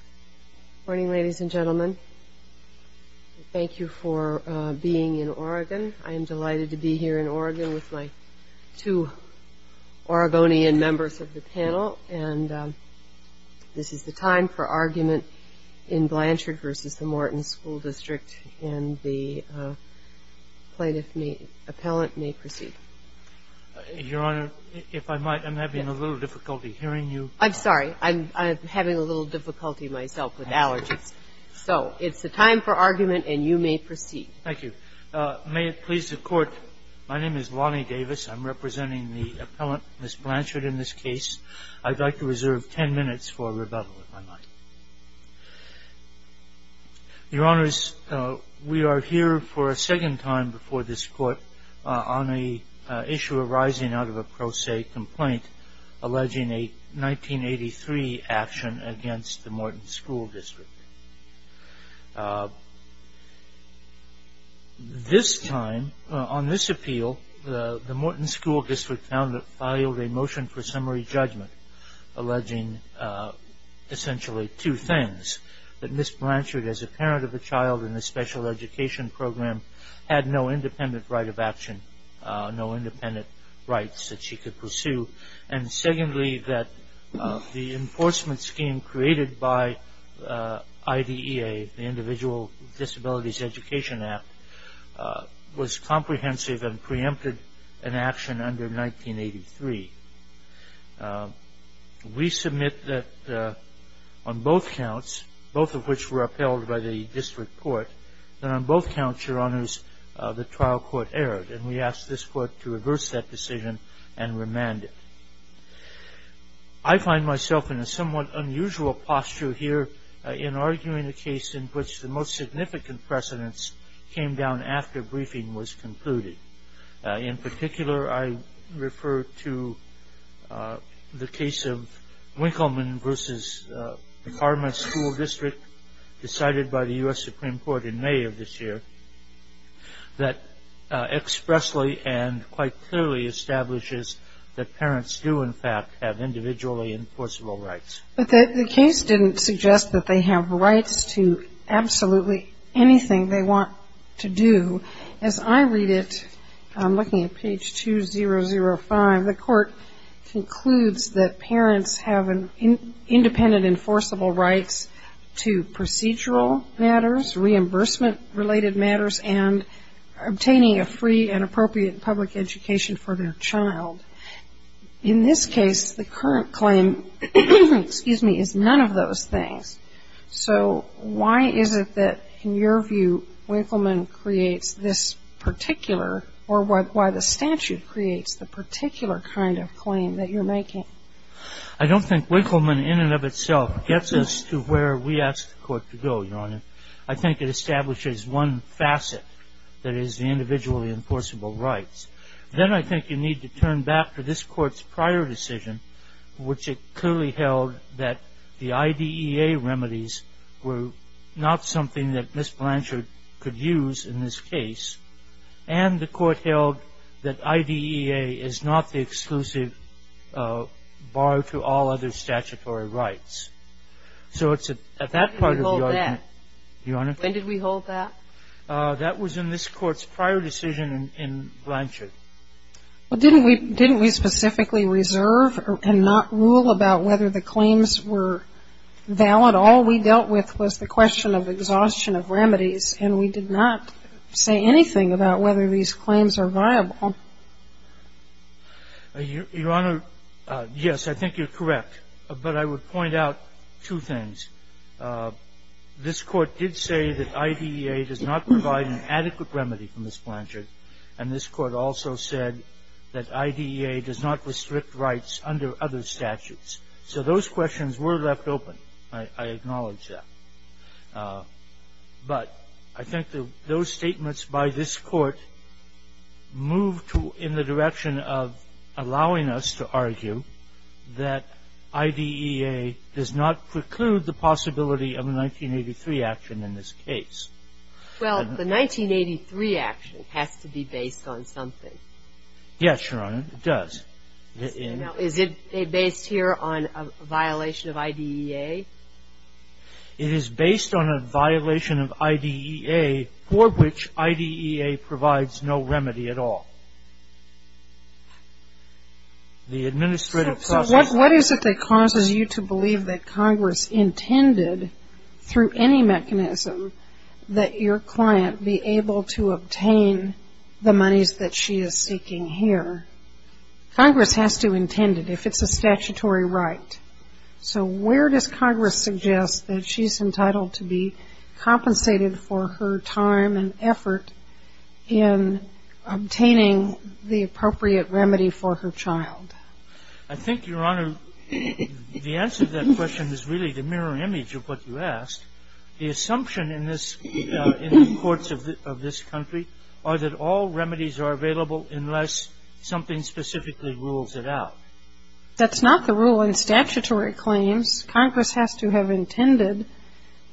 Good morning ladies and gentlemen. Thank you for being in Oregon. I am delighted to be here in Oregon with my two Oregonian members of the panel and this is the time for argument in Blanchard v. Morton School District and the plaintiff may, appellant may proceed. Your Honor, if I might, I'm having a little difficulty hearing you. I'm sorry. I'm having a little difficulty myself with allergies. So it's the time for argument and you may proceed. Thank you. May it please the Court, my name is Lonnie Davis. I'm representing the appellant, Ms. Blanchard, in this case. I'd like to reserve ten minutes for rebuttal, if I might. Your Honors, we are here for a second time before this Court on an issue arising out of a pro se complaint alleging a 1983 action against the Morton School District. This time, on this appeal, the Morton School District filed a motion for summary judgment alleging essentially two things. That Ms. Blanchard, as a parent of a child in a special education program, had no independent right of action, no independent rights that she could pursue. And secondly, that the enforcement scheme created by IDEA, the Individual Disabilities Education Act, was comprehensive and preempted an action under 1983. We submit that on both counts, both of which were upheld by the District Court, that on both counts, Your Honors, the trial court erred. And we ask this Court to reverse that decision and remand it. I find myself in a somewhat unusual posture here in arguing a case in which the most significant precedence came down after briefing was concluded. In particular, I refer to the case of Winkleman v. Karma School District decided by the U.S. Supreme Court in May of this year that expressly and quite clearly establishes that parents do, in fact, have individually enforceable rights. But the case didn't suggest that they have rights to absolutely anything they want to do. As I read it, I'm looking at page 2005, the court concludes that parents have independent enforceable rights to procedural matters, reimbursement-related matters, and obtaining a free and appropriate public education for their child. In this case, the current claim, excuse me, is none of those things. So why is it that, in your view, Winkleman creates this particular, or why the statute creates the particular kind of claim that you're making? I don't think Winkleman in and of itself gets us to where we ask the Court to go, Your Honor. I think it establishes one facet, that is, the individually enforceable rights. Then I think you need to turn back to this Court's prior decision, which it clearly held that the IDEA remedies were not something that Ms. Blanchard could use in this case, and the Court held that IDEA is not the exclusive bar to all other statutory rights. So it's at that part of the argument. When did we hold that? Your Honor? When did we hold that? That was in this Court's prior decision in Blanchard. Well, didn't we specifically reserve and not rule about whether the claims were valid? No, but all we dealt with was the question of exhaustion of remedies, and we did not say anything about whether these claims are viable. Your Honor, yes, I think you're correct. But I would point out two things. This Court did say that IDEA does not provide an adequate remedy for Ms. Blanchard, and this Court also said that IDEA does not restrict rights under other statutes. So those questions were left open. I acknowledge that. But I think that those statements by this Court move in the direction of allowing us to argue that IDEA does not preclude the possibility of a 1983 action in this case. Well, the 1983 action has to be based on something. Yes, Your Honor, it does. Now, is it based here on a violation of IDEA? It is based on a violation of IDEA for which IDEA provides no remedy at all. The administrative process So what is it that causes you to believe that Congress intended, through any mechanism, that your client be able to obtain the monies that she is seeking here? Congress has to intend it if it's a statutory right. So where does Congress suggest that she's entitled to be compensated for her time and effort in obtaining the appropriate remedy for her child? I think, Your Honor, the answer to that question is really the mirror image of what you asked. The assumption in this ‑‑ in the courts of this country are that all remedies are available unless something specifically rules it out. That's not the rule in statutory claims. Congress has to have intended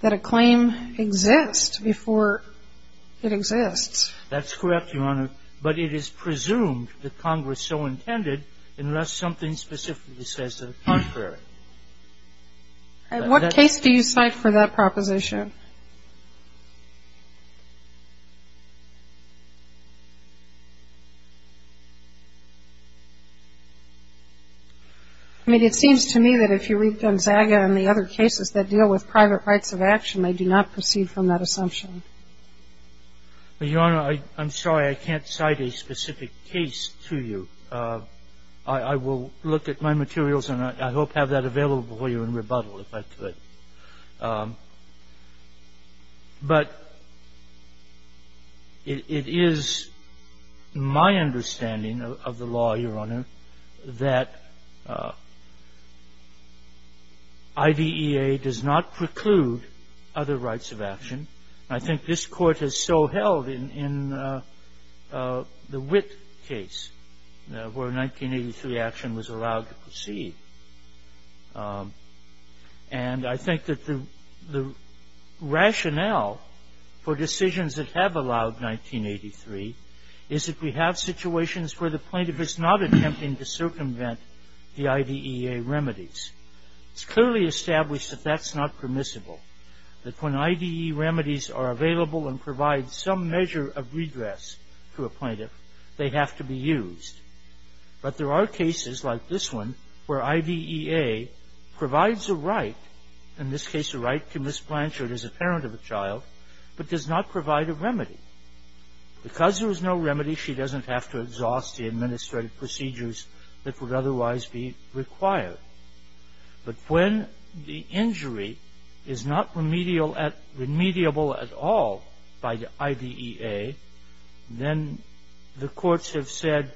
that a claim exist before it exists. That's correct, Your Honor. But it is presumed that Congress so intended unless something specifically says that it's contrary. What case do you cite for that proposition? I mean, it seems to me that if you read Gonzaga and the other cases that deal with private rights of action, they do not proceed from that assumption. Your Honor, I'm sorry. I can't cite a specific case to you. I will look at my materials and I hope have that available for you in rebuttal if I could. But it is my understanding of the law, Your Honor, that IDEA does not preclude other rights of action. I think this Court has so held in the Witt case where 1983 action was allowed to proceed. And I think that the rationale for decisions that have allowed 1983 is that we have situations where the plaintiff is not attempting to circumvent the IDEA remedies. It's clearly established that that's not permissible. That when IDEA remedies are available and provide some measure of redress to a plaintiff, they have to be used. But there are cases like this one where IDEA provides a right, in this case a right to misbranch or is a parent of a child, but does not provide a remedy. Because there is no remedy, she doesn't have to exhaust the administrative procedures that would otherwise be required. But when the injury is not remediable at all by IDEA, then the courts have said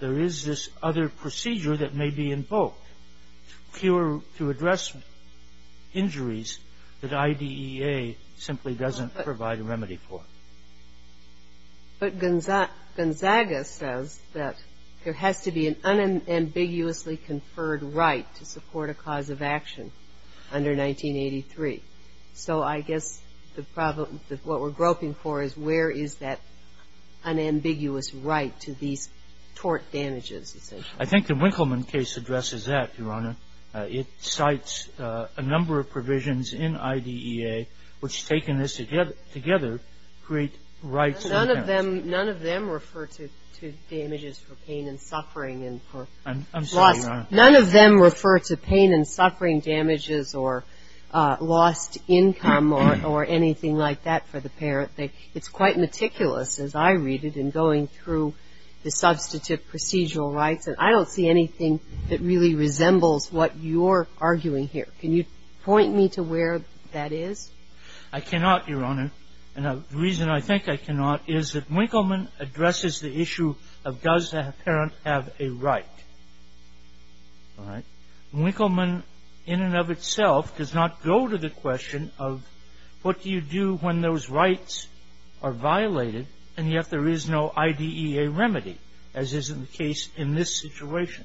there is this other procedure that may be invoked to address injuries that IDEA simply doesn't provide a remedy for. But Gonzaga says that there has to be an unambiguously conferred right to support a cause of action under 1983. So I guess the problem, what we're groping for is where is that unambiguous right to these tort damages, you say? I think the Winkleman case addresses that, Your Honor. It cites a number of provisions in IDEA which, taken together, create rights. None of them refer to damages for pain and suffering and for loss. I'm sorry, Your Honor. None of them refer to pain and suffering damages or lost income or anything like that for the parent. It's quite meticulous, as I read it, in going through the substantive procedural rights. And I don't see anything that really resembles what you're arguing here. Can you point me to where that is? I cannot, Your Honor. And the reason I think I cannot is that Winkleman addresses the issue of does the parent have a right. All right? Winkleman in and of itself does not go to the question of what do you do when those rights are violated, and yet there is no IDEA remedy, as is the case in this situation.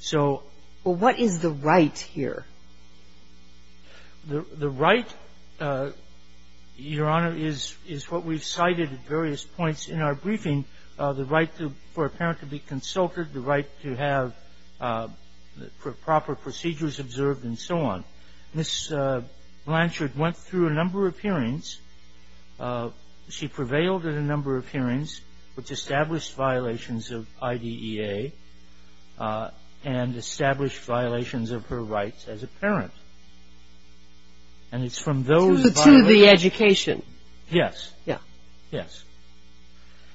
So what is the right here? The right, Your Honor, is what we've cited at various points in our briefing, the right for a parent to be consulted, the right to have proper procedures observed, and so on. Ms. Blanchard went through a number of hearings. She prevailed at a number of hearings, which established violations of IDEA and established violations of her rights as a parent. And it's from those violations ---- To the education. Yes. Yes.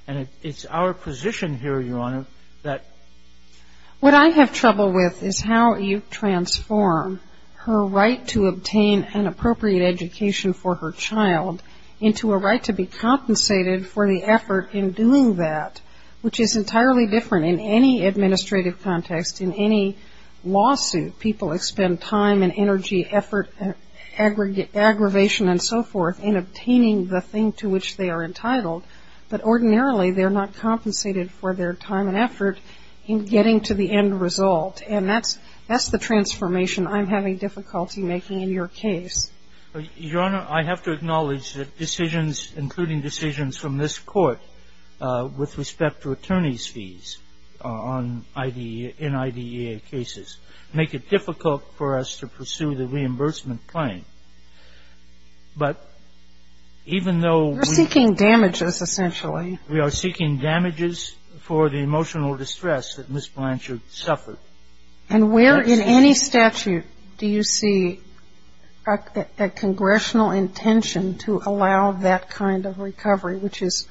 And it's our position here, Your Honor, that ---- What I have trouble with is how you transform her right to obtain an appropriate education for her child into a right to be compensated for the effort in doing that, which is entirely different in any administrative context, in any lawsuit. People expend time and energy, effort, aggravation, and so forth, but ordinarily they're not compensated for their time and effort in getting to the end result. And that's the transformation I'm having difficulty making in your case. Your Honor, I have to acknowledge that decisions, including decisions from this Court with respect to attorney's fees in IDEA cases, make it difficult for us to pursue the reimbursement claim. But even though we ---- We are seeking damages, essentially. We are seeking damages for the emotional distress that Ms. Blanchard suffered. And where in any statute do you see a congressional intention to allow that kind of recovery, which is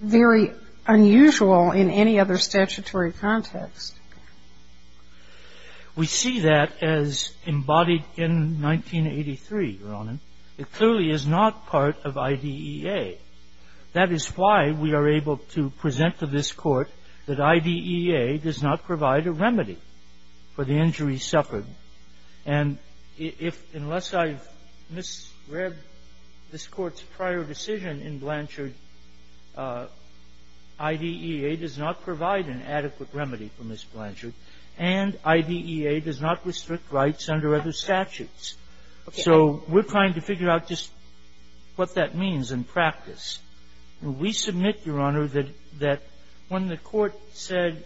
very unusual in any other statutory context? Well, I think that's a very good question. It clearly is not part of IDEA. That is why we are able to present to this Court that IDEA does not provide a remedy for the injury suffered. And if ---- unless I've misread this Court's prior decision in Blanchard, IDEA does not provide an adequate remedy for Ms. Blanchard, and IDEA does not restrict rights under other statutes. So we're trying to figure out just what that means in practice. We submit, Your Honor, that when the Court said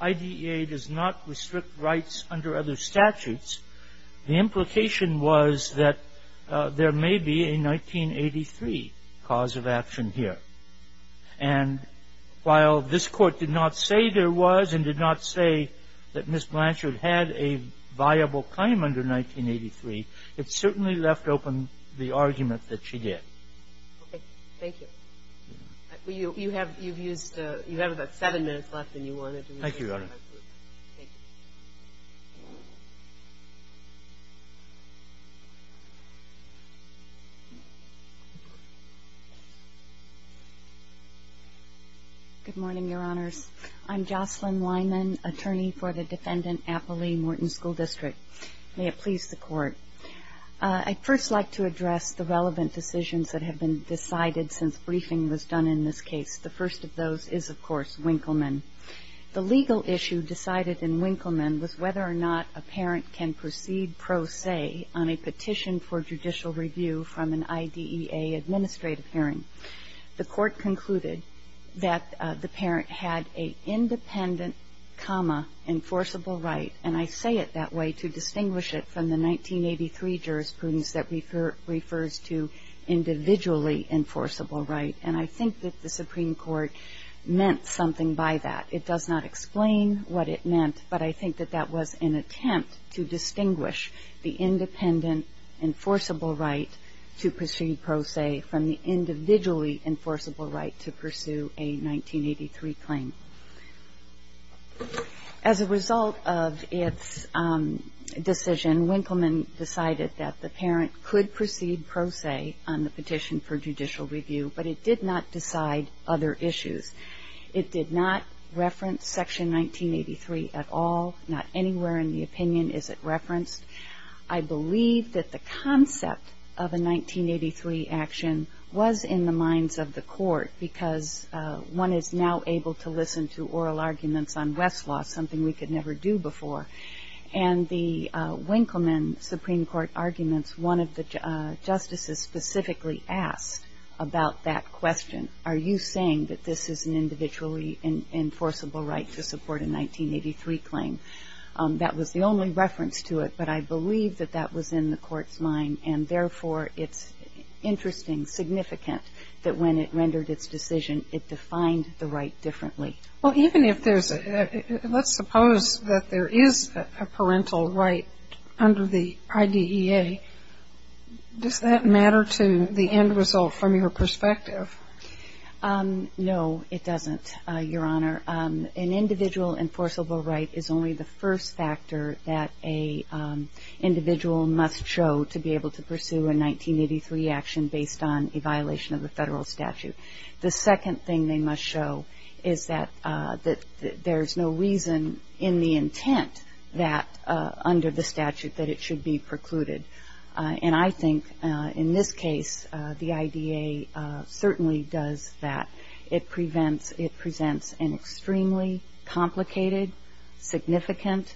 IDEA does not restrict rights under other statutes, the implication was that there may be a 1983 cause of action here. And while this Court did not say there was and did not say that Ms. Blanchard had a viable claim under 1983, it certainly left open the argument that she did. Okay. Thank you. You have about seven minutes left, and you wanted to ---- Thank you, Your Honor. Thank you. Good morning, Your Honors. I'm Jocelyn Weinman, attorney for the Defendant Applee Morton School District. May it please the Court. I'd first like to address the relevant decisions that have been decided since briefing was done in this case. The first of those is, of course, Winkleman. The legal issue decided in Winkleman was whether or not a parent can proceed pro se on a petition for judicial review from an IDEA administrative hearing. The Court concluded that the parent had a independent, comma, enforceable right. And I say it that way to distinguish it from the 1983 jurisprudence that refers to individually enforceable right. And I think that the Supreme Court meant something by that. It does not explain what it meant, but I think that that was an attempt to distinguish the independent, enforceable right to proceed pro se from the individually enforceable right to pursue a 1983 claim. As a result of its decision, Winkleman decided that the parent could proceed pro se on the petition for judicial review, but it did not decide other issues. It did not reference Section 1983 at all. Not anywhere in the opinion is it referenced. I believe that the concept of a 1983 action was in the minds of the Court because one is now able to listen to oral arguments on Westlaw, something we could never do before. And the Winkleman Supreme Court arguments, one of the justices specifically asked about that question, are you saying that this is an individually enforceable right to support a 1983 claim? That was the only reference to it, but I believe that that was in the Court's mind, and therefore, it's interesting, significant, that when it rendered its decision, it defined the right differently. Well, even if there's a, let's suppose that there is a parental right under the IDEA, does that matter to the end result from your perspective? No, it doesn't, Your Honor. An individual enforceable right is only the first factor that an individual must show to be able to pursue a 1983 action based on a violation of the Federal statute. The second thing they must show is that there's no reason in the intent that, under the statute, that it should be precluded. And I think in this case, the IDEA certainly does that. It presents an extremely complicated, significant,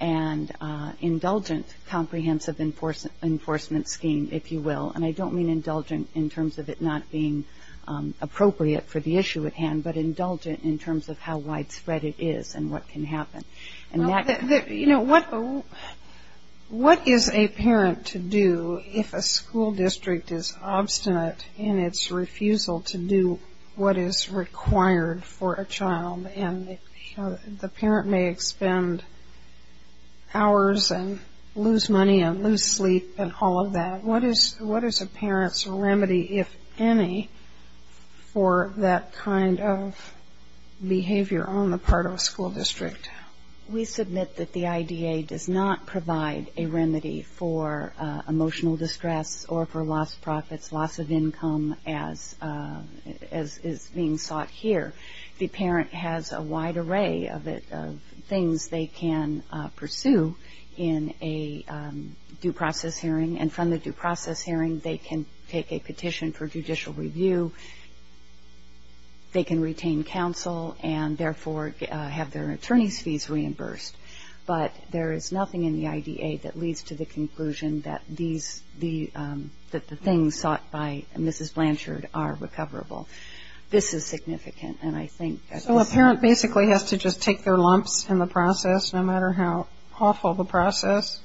and indulgent comprehensive enforcement scheme, if you will. And I don't mean indulgent in terms of it not being appropriate for the issue at hand, but indulgent in terms of how widespread it is and what can happen. You know, what is a parent to do if a school district is obstinate in its refusal to do what is required for a child? And the parent may expend hours and lose money and lose sleep and all of that. What is a parent's remedy, if any, for that kind of behavior on the part of a school district? We submit that the IDEA does not provide a remedy for emotional distress or for lost profits, loss of income as is being sought here. The parent has a wide array of things they can pursue in a due process hearing and from the due process hearing they can take a petition for judicial review. They can retain counsel and, therefore, have their attorney's fees reimbursed. But there is nothing in the IDEA that leads to the conclusion that these, that the things sought by Mrs. Blanchard are recoverable. This is significant, and I think that this is the case. So a parent basically has to just take their lumps in the process, no matter how awful the process?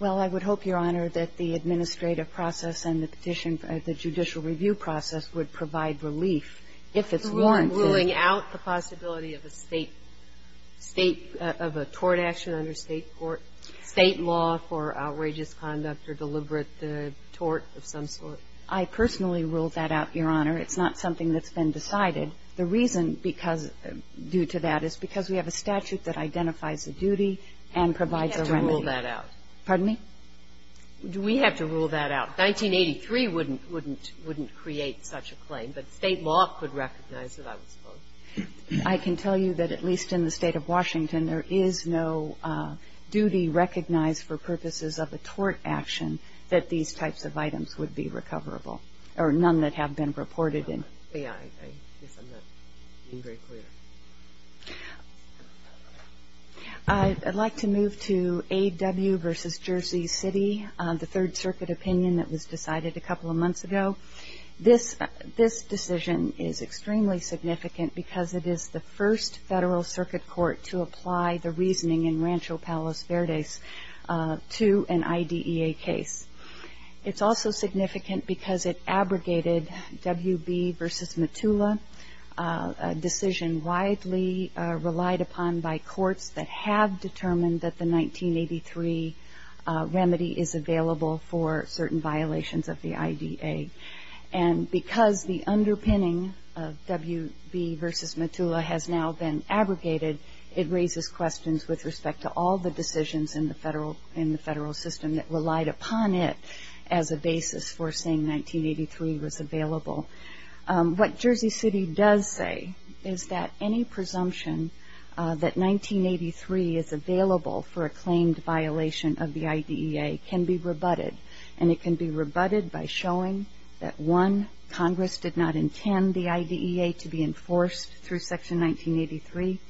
Well, I would hope, Your Honor, that the administrative process and the petition for the judicial review process would provide relief if it's warranted. So we're ruling out the possibility of a State, State, of a tort action under State court, State law for outrageous conduct or deliberate tort of some sort? I personally ruled that out, Your Honor. It's not something that's been decided. The reason because due to that is because we have a statute that identifies the duty and provides a remedy. We have to rule that out. Pardon me? We have to rule that out. 1983 wouldn't, wouldn't, wouldn't create such a claim, but State law could recognize it, I would suppose. I can tell you that at least in the State of Washington there is no duty recognized for purposes of a tort action that these types of items would be recoverable or none that have been reported in. Yeah. I guess I'm not being very clear. I'd like to move to A.W. versus Jersey City, the Third Circuit opinion that was decided a couple of months ago. This, this decision is extremely significant because it is the first Federal Circuit court to apply the reasoning in Rancho Palos Verdes to an IDEA case. It's also significant because it abrogated W.B. versus Metula, a decision widely relied upon by courts that have determined that the 1983 remedy is available for certain violations of the IDEA. And because the underpinning of W.B. versus Metula has now been abrogated, it raises questions with respect to all the decisions in the Federal, in the Federal system that relied upon it as a basis for saying 1983 was available. What Jersey City does say is that any presumption that 1983 is available for a claimed violation of the IDEA can be rebutted. And it can be rebutted by showing that, one, Congress did not intend the IDEA to be enforced through Section 1983,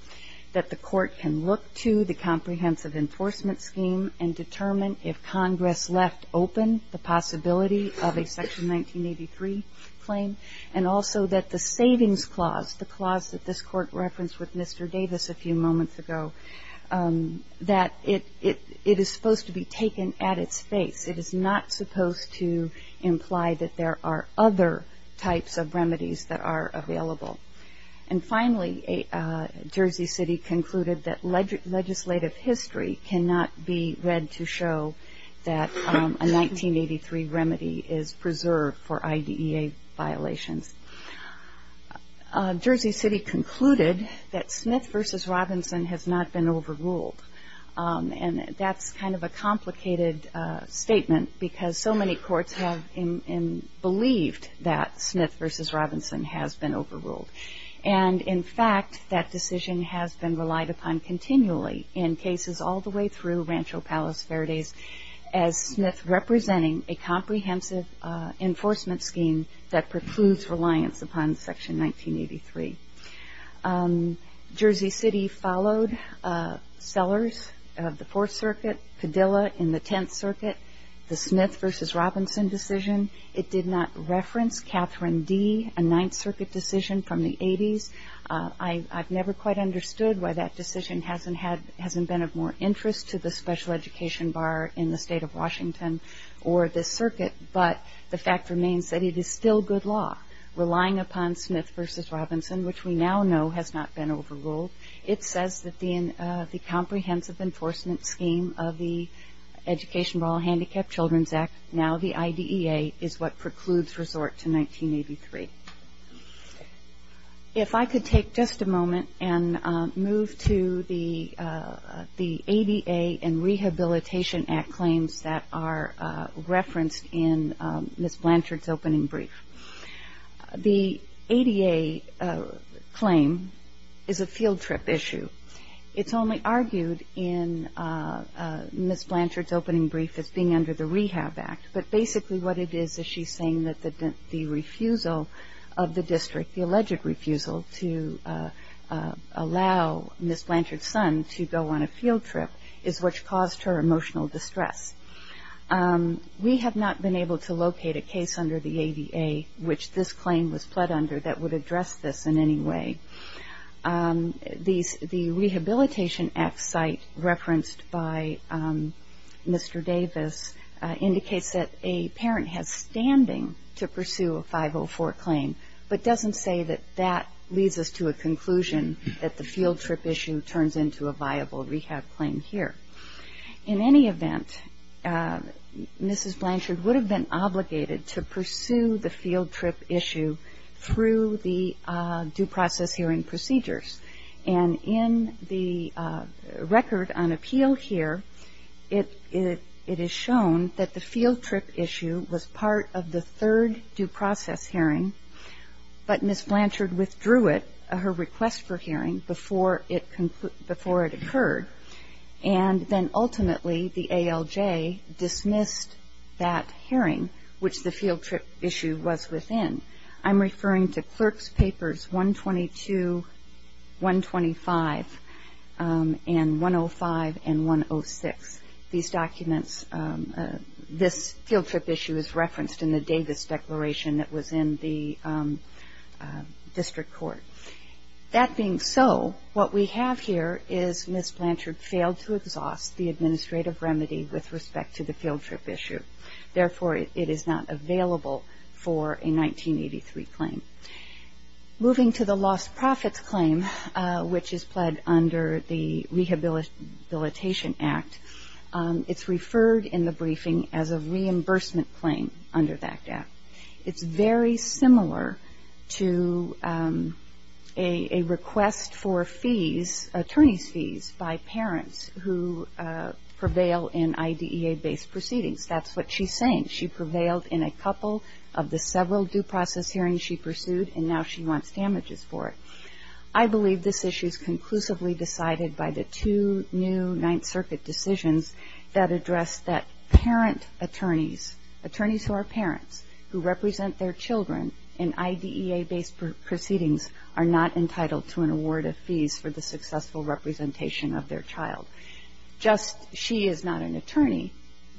that the court can look to the comprehensive enforcement scheme and determine if Congress left open the possibility of a Section 1983 claim, and also that the savings clause, the clause that this court referenced with Mr. Davis a few moments ago, that it, it, it is supposed to be taken at its face. It is not supposed to imply that there are other types of remedies that are available. And finally, Jersey City concluded that legislative history cannot be read to show that a 1983 remedy is preserved for IDEA violations. Jersey City concluded that Smith versus Robinson has not been overruled. And that's kind of a complicated statement because so many courts have believed that Smith versus Robinson has been overruled. And, in fact, that decision has been relied upon continually in cases all the way through Rancho Palos Verdes, as Smith representing a comprehensive enforcement scheme that precludes reliance upon Section 1983. Jersey City followed Sellers of the Fourth Circuit, Padilla in the Tenth Circuit, the Smith versus Robinson decision. It did not reference Catherine D., a Ninth Circuit decision from the 80s. I've never quite understood why that decision hasn't had, hasn't been of more interest to the special education bar in the State of Washington or this circuit. But the fact remains that it is still good law, relying upon Smith versus Robinson, which we now know has not been overruled. It says that the comprehensive enforcement scheme of the Education for All Handicapped Children's Act, now the IDEA, is what precludes resort to 1983. If I could take just a moment and move to the ADA and Rehabilitation Act claims that are referenced in Ms. Blanchard's opening brief. The ADA claim is a field trip issue. It's only argued in Ms. Blanchard's opening brief as being under the Rehab Act, but basically what it is is she's saying that the refusal of the district, the alleged refusal to allow Ms. Blanchard's son to go on a field trip, is what caused her emotional distress. We have not been able to locate a case under the ADA, which this claim was pled under, that would address this in any way. The Rehabilitation Act site referenced by Mr. Davis indicates that a parent has standing to pursue a 504 claim, but doesn't say that that leads us to a conclusion that the field trip issue turns into a viable rehab claim here. In any event, Ms. Blanchard would have been obligated to pursue the field trip issue through the due process hearing procedures, and in the record on appeal here, it is shown that the field trip issue was part of the third due process hearing, but Ms. Blanchard withdrew it, her request for hearing, before it occurred, and then ultimately the ALJ dismissed that hearing, which the field trip issue was within. I'm referring to clerk's papers 122, 125, and 105, and 106. These documents, this field trip issue is referenced in the Davis declaration that was in the district court. That being so, what we have here is Ms. Blanchard failed to exhaust the administrative remedy with respect to the field trip issue. Therefore, it is not available for a 1983 claim. Moving to the lost profits claim, which is pled under the Rehabilitation Act, it's referred in the briefing as a reimbursement claim under that act. It's very similar to a request for fees, attorney's fees, by parents who prevail in IDEA-based proceedings. That's what she's saying. She prevailed in a couple of the several due process hearings she pursued, and now she wants damages for it. I believe this issue is conclusively decided by the two new Ninth Circuit decisions that address that parent attorneys, attorneys who are parents, who represent their children in IDEA-based proceedings, are not entitled to an award of fees for the successful representation of their child. Just she is not an attorney,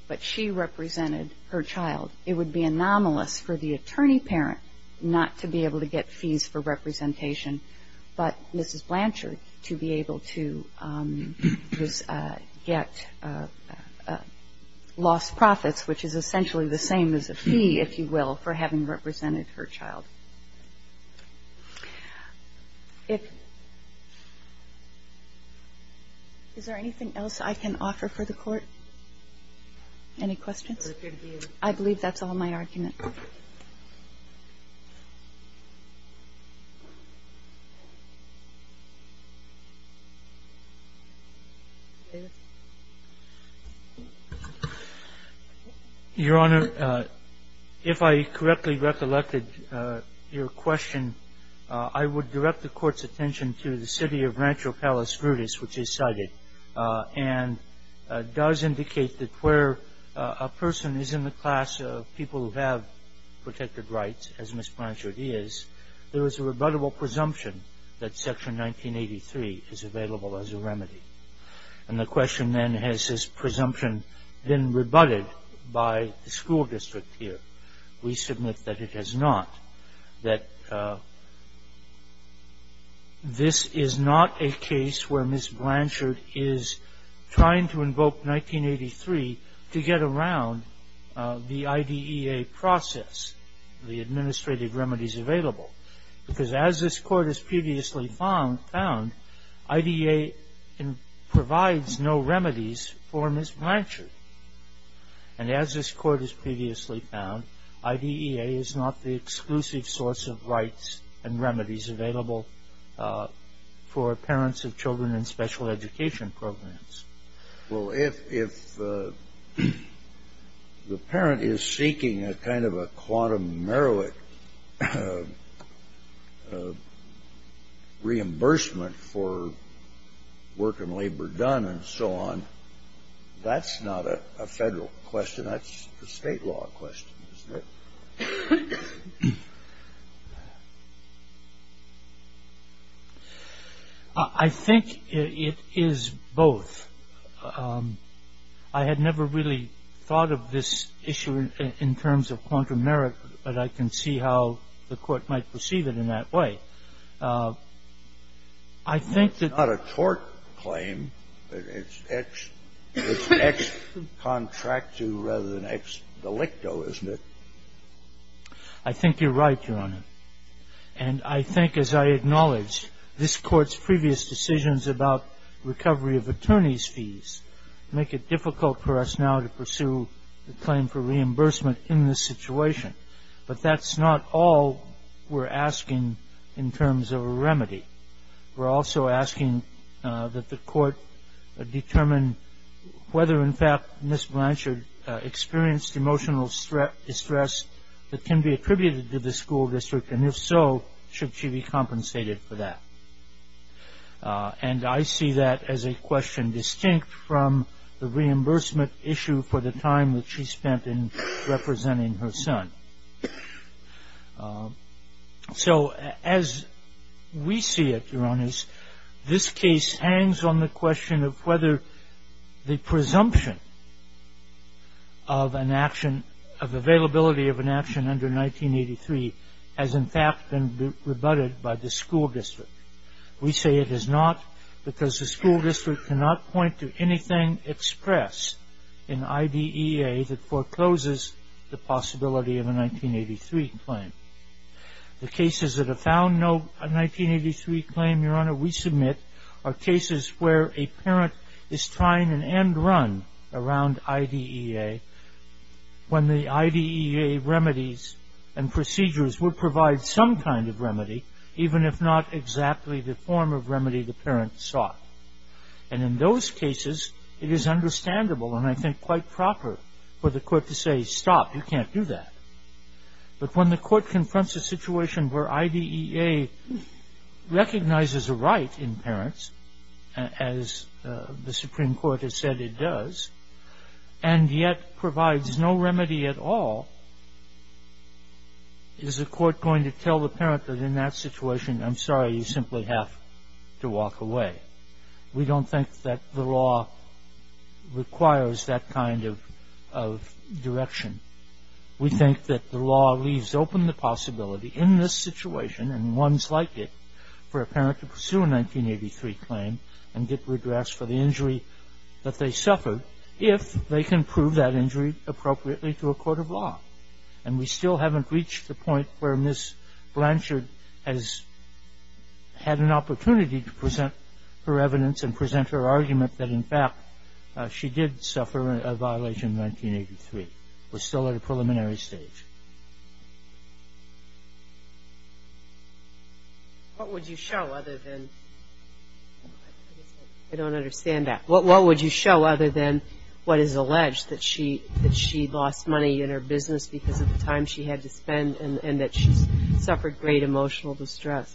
but she represented her child. It would be anomalous for the attorney parent not to be able to get fees for representation, but Mrs. Blanchard to be able to get lost profits, which is essentially the same as a fee, if you will, for having represented her child. Is there anything else I can offer for the Court? Any questions? I believe that's all my argument. Your Honor, if I correctly recollected your question, I would direct the Court's attention to the city of Rancho Palos Verdes, which is cited, and does indicate that where a person is in the class of people who have protected rights, as Ms. Blanchard is, there is a rebuttable presumption that Section 1983 is available as a remedy. And the question then, has this presumption been rebutted by the school district here? We submit that it has not, that this is not a case where Ms. Blanchard is trying to invoke 1983 to get around the IDEA process, the administrative remedies available. Because as this Court has previously found, IDEA provides no remedies for Ms. Blanchard. And as this Court has previously found, IDEA is not the exclusive source of rights and remedies available for parents of children in special education programs. Well, if the parent is seeking a kind of a quantum meroit reimbursement for work and labor done and so on, that's not a federal question, that's a state law question, isn't it? I think it is both. I had never really thought of this issue in terms of quantum merit, but I can see how the Court might perceive it in that way. I think that the court claims that it's ex contractu rather than ex delicto, isn't it? I think you're right, Your Honor. And I think, as I acknowledge, this Court's previous decisions about recovery of attorney's fees make it difficult for us now to pursue the claim for reimbursement in this situation. But that's not all we're asking in terms of a remedy. We're also asking that the Court determine whether, in fact, Ms. Blanchard experienced emotional distress that can be attributed to the school district, and if so, should she be compensated for that? And I see that as a question distinct from the reimbursement issue for the time that she spent in representing her son. So as we see it, Your Honors, this case hangs on the question of whether the presumption of an action of availability of an action under 1983 has, in fact, been rebutted by the school district. We say it has not because the school district cannot point to anything expressed in IDEA that forecloses the possibility of a 1983 claim. The cases that have found no 1983 claim, Your Honor, we submit are cases where a parent is trying an end run around IDEA when the IDEA remedies and procedures would provide some kind of remedy, even if not exactly the form of remedy the parent sought. And in those cases, it is understandable, and I think quite proper, for the Court to say, stop, you can't do that. But when the Court confronts a situation where IDEA recognizes a right in parents, as the Supreme Court has said it does, and yet provides no remedy at all, is the Court going to tell the parent that in that situation, I'm sorry, you simply have to walk away? We don't think that the law requires that kind of direction. We think that the law leaves open the possibility in this situation, and ones like it, for a parent to pursue a 1983 claim and get redress for the injury that they suffered, if they can prove that injury appropriately to a court of law. And we still haven't reached the point where Ms. Blanchard has had an opportunity to present her evidence and present her argument that, in fact, she did suffer a violation in 1983. We're still at a preliminary stage. What would you show other than, I don't understand that, what would you show other than what is alleged, that she lost money in her business because of the time she had to spend and that she suffered great emotional distress?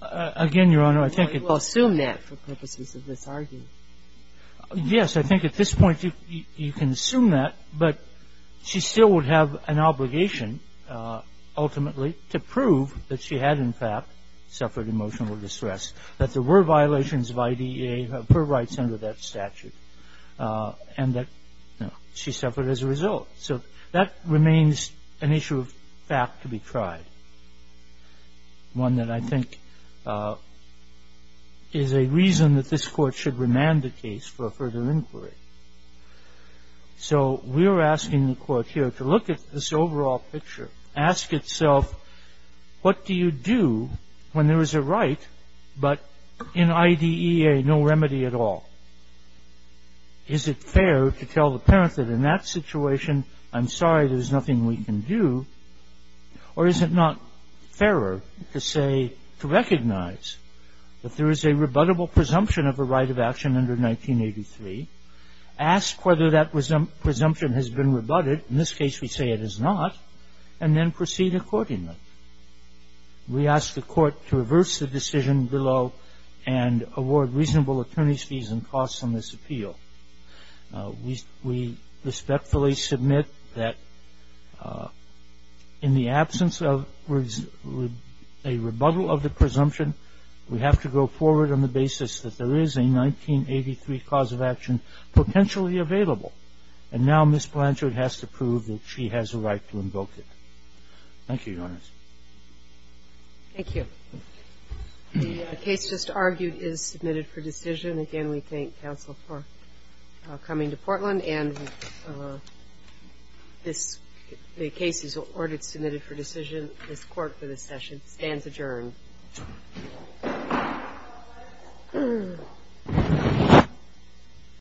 Again, Your Honor, I think it's... We'll assume that for purposes of this argument. Yes, I think at this point you can assume that, but she still would have an obligation, ultimately, to prove that she had, in fact, suffered emotional distress, that there were violations of IDEA, her rights under that statute, and that she suffered as a result. So that remains an issue of fact to be tried, one that I think is a reason that this Court should remand the case for further inquiry. So we're asking the Court here to look at this overall picture, ask itself, what do you do when there is a right, but in IDEA no remedy at all? Is it fair to tell the parent that in that situation, I'm sorry, there's nothing we can do, or is it not fairer to say, to recognize that there is a rebuttable presumption of a right of action under 1983, ask whether that presumption has been rebutted, in this case we say it is not, and then proceed accordingly? We ask the Court to reverse the decision below and award reasonable attorney's fees and costs on this appeal. We respectfully submit that in the absence of a rebuttal of the presumption, we have to go forward on the basis that there is a 1983 cause of action potentially available, and now Ms. Blanchard has to prove that she has a right to invoke it. Thank you, Your Honors. Thank you. The case just argued is submitted for decision. Again, we thank counsel for coming to Portland, and the case is ordered submitted for decision. This Court for this session stands adjourned.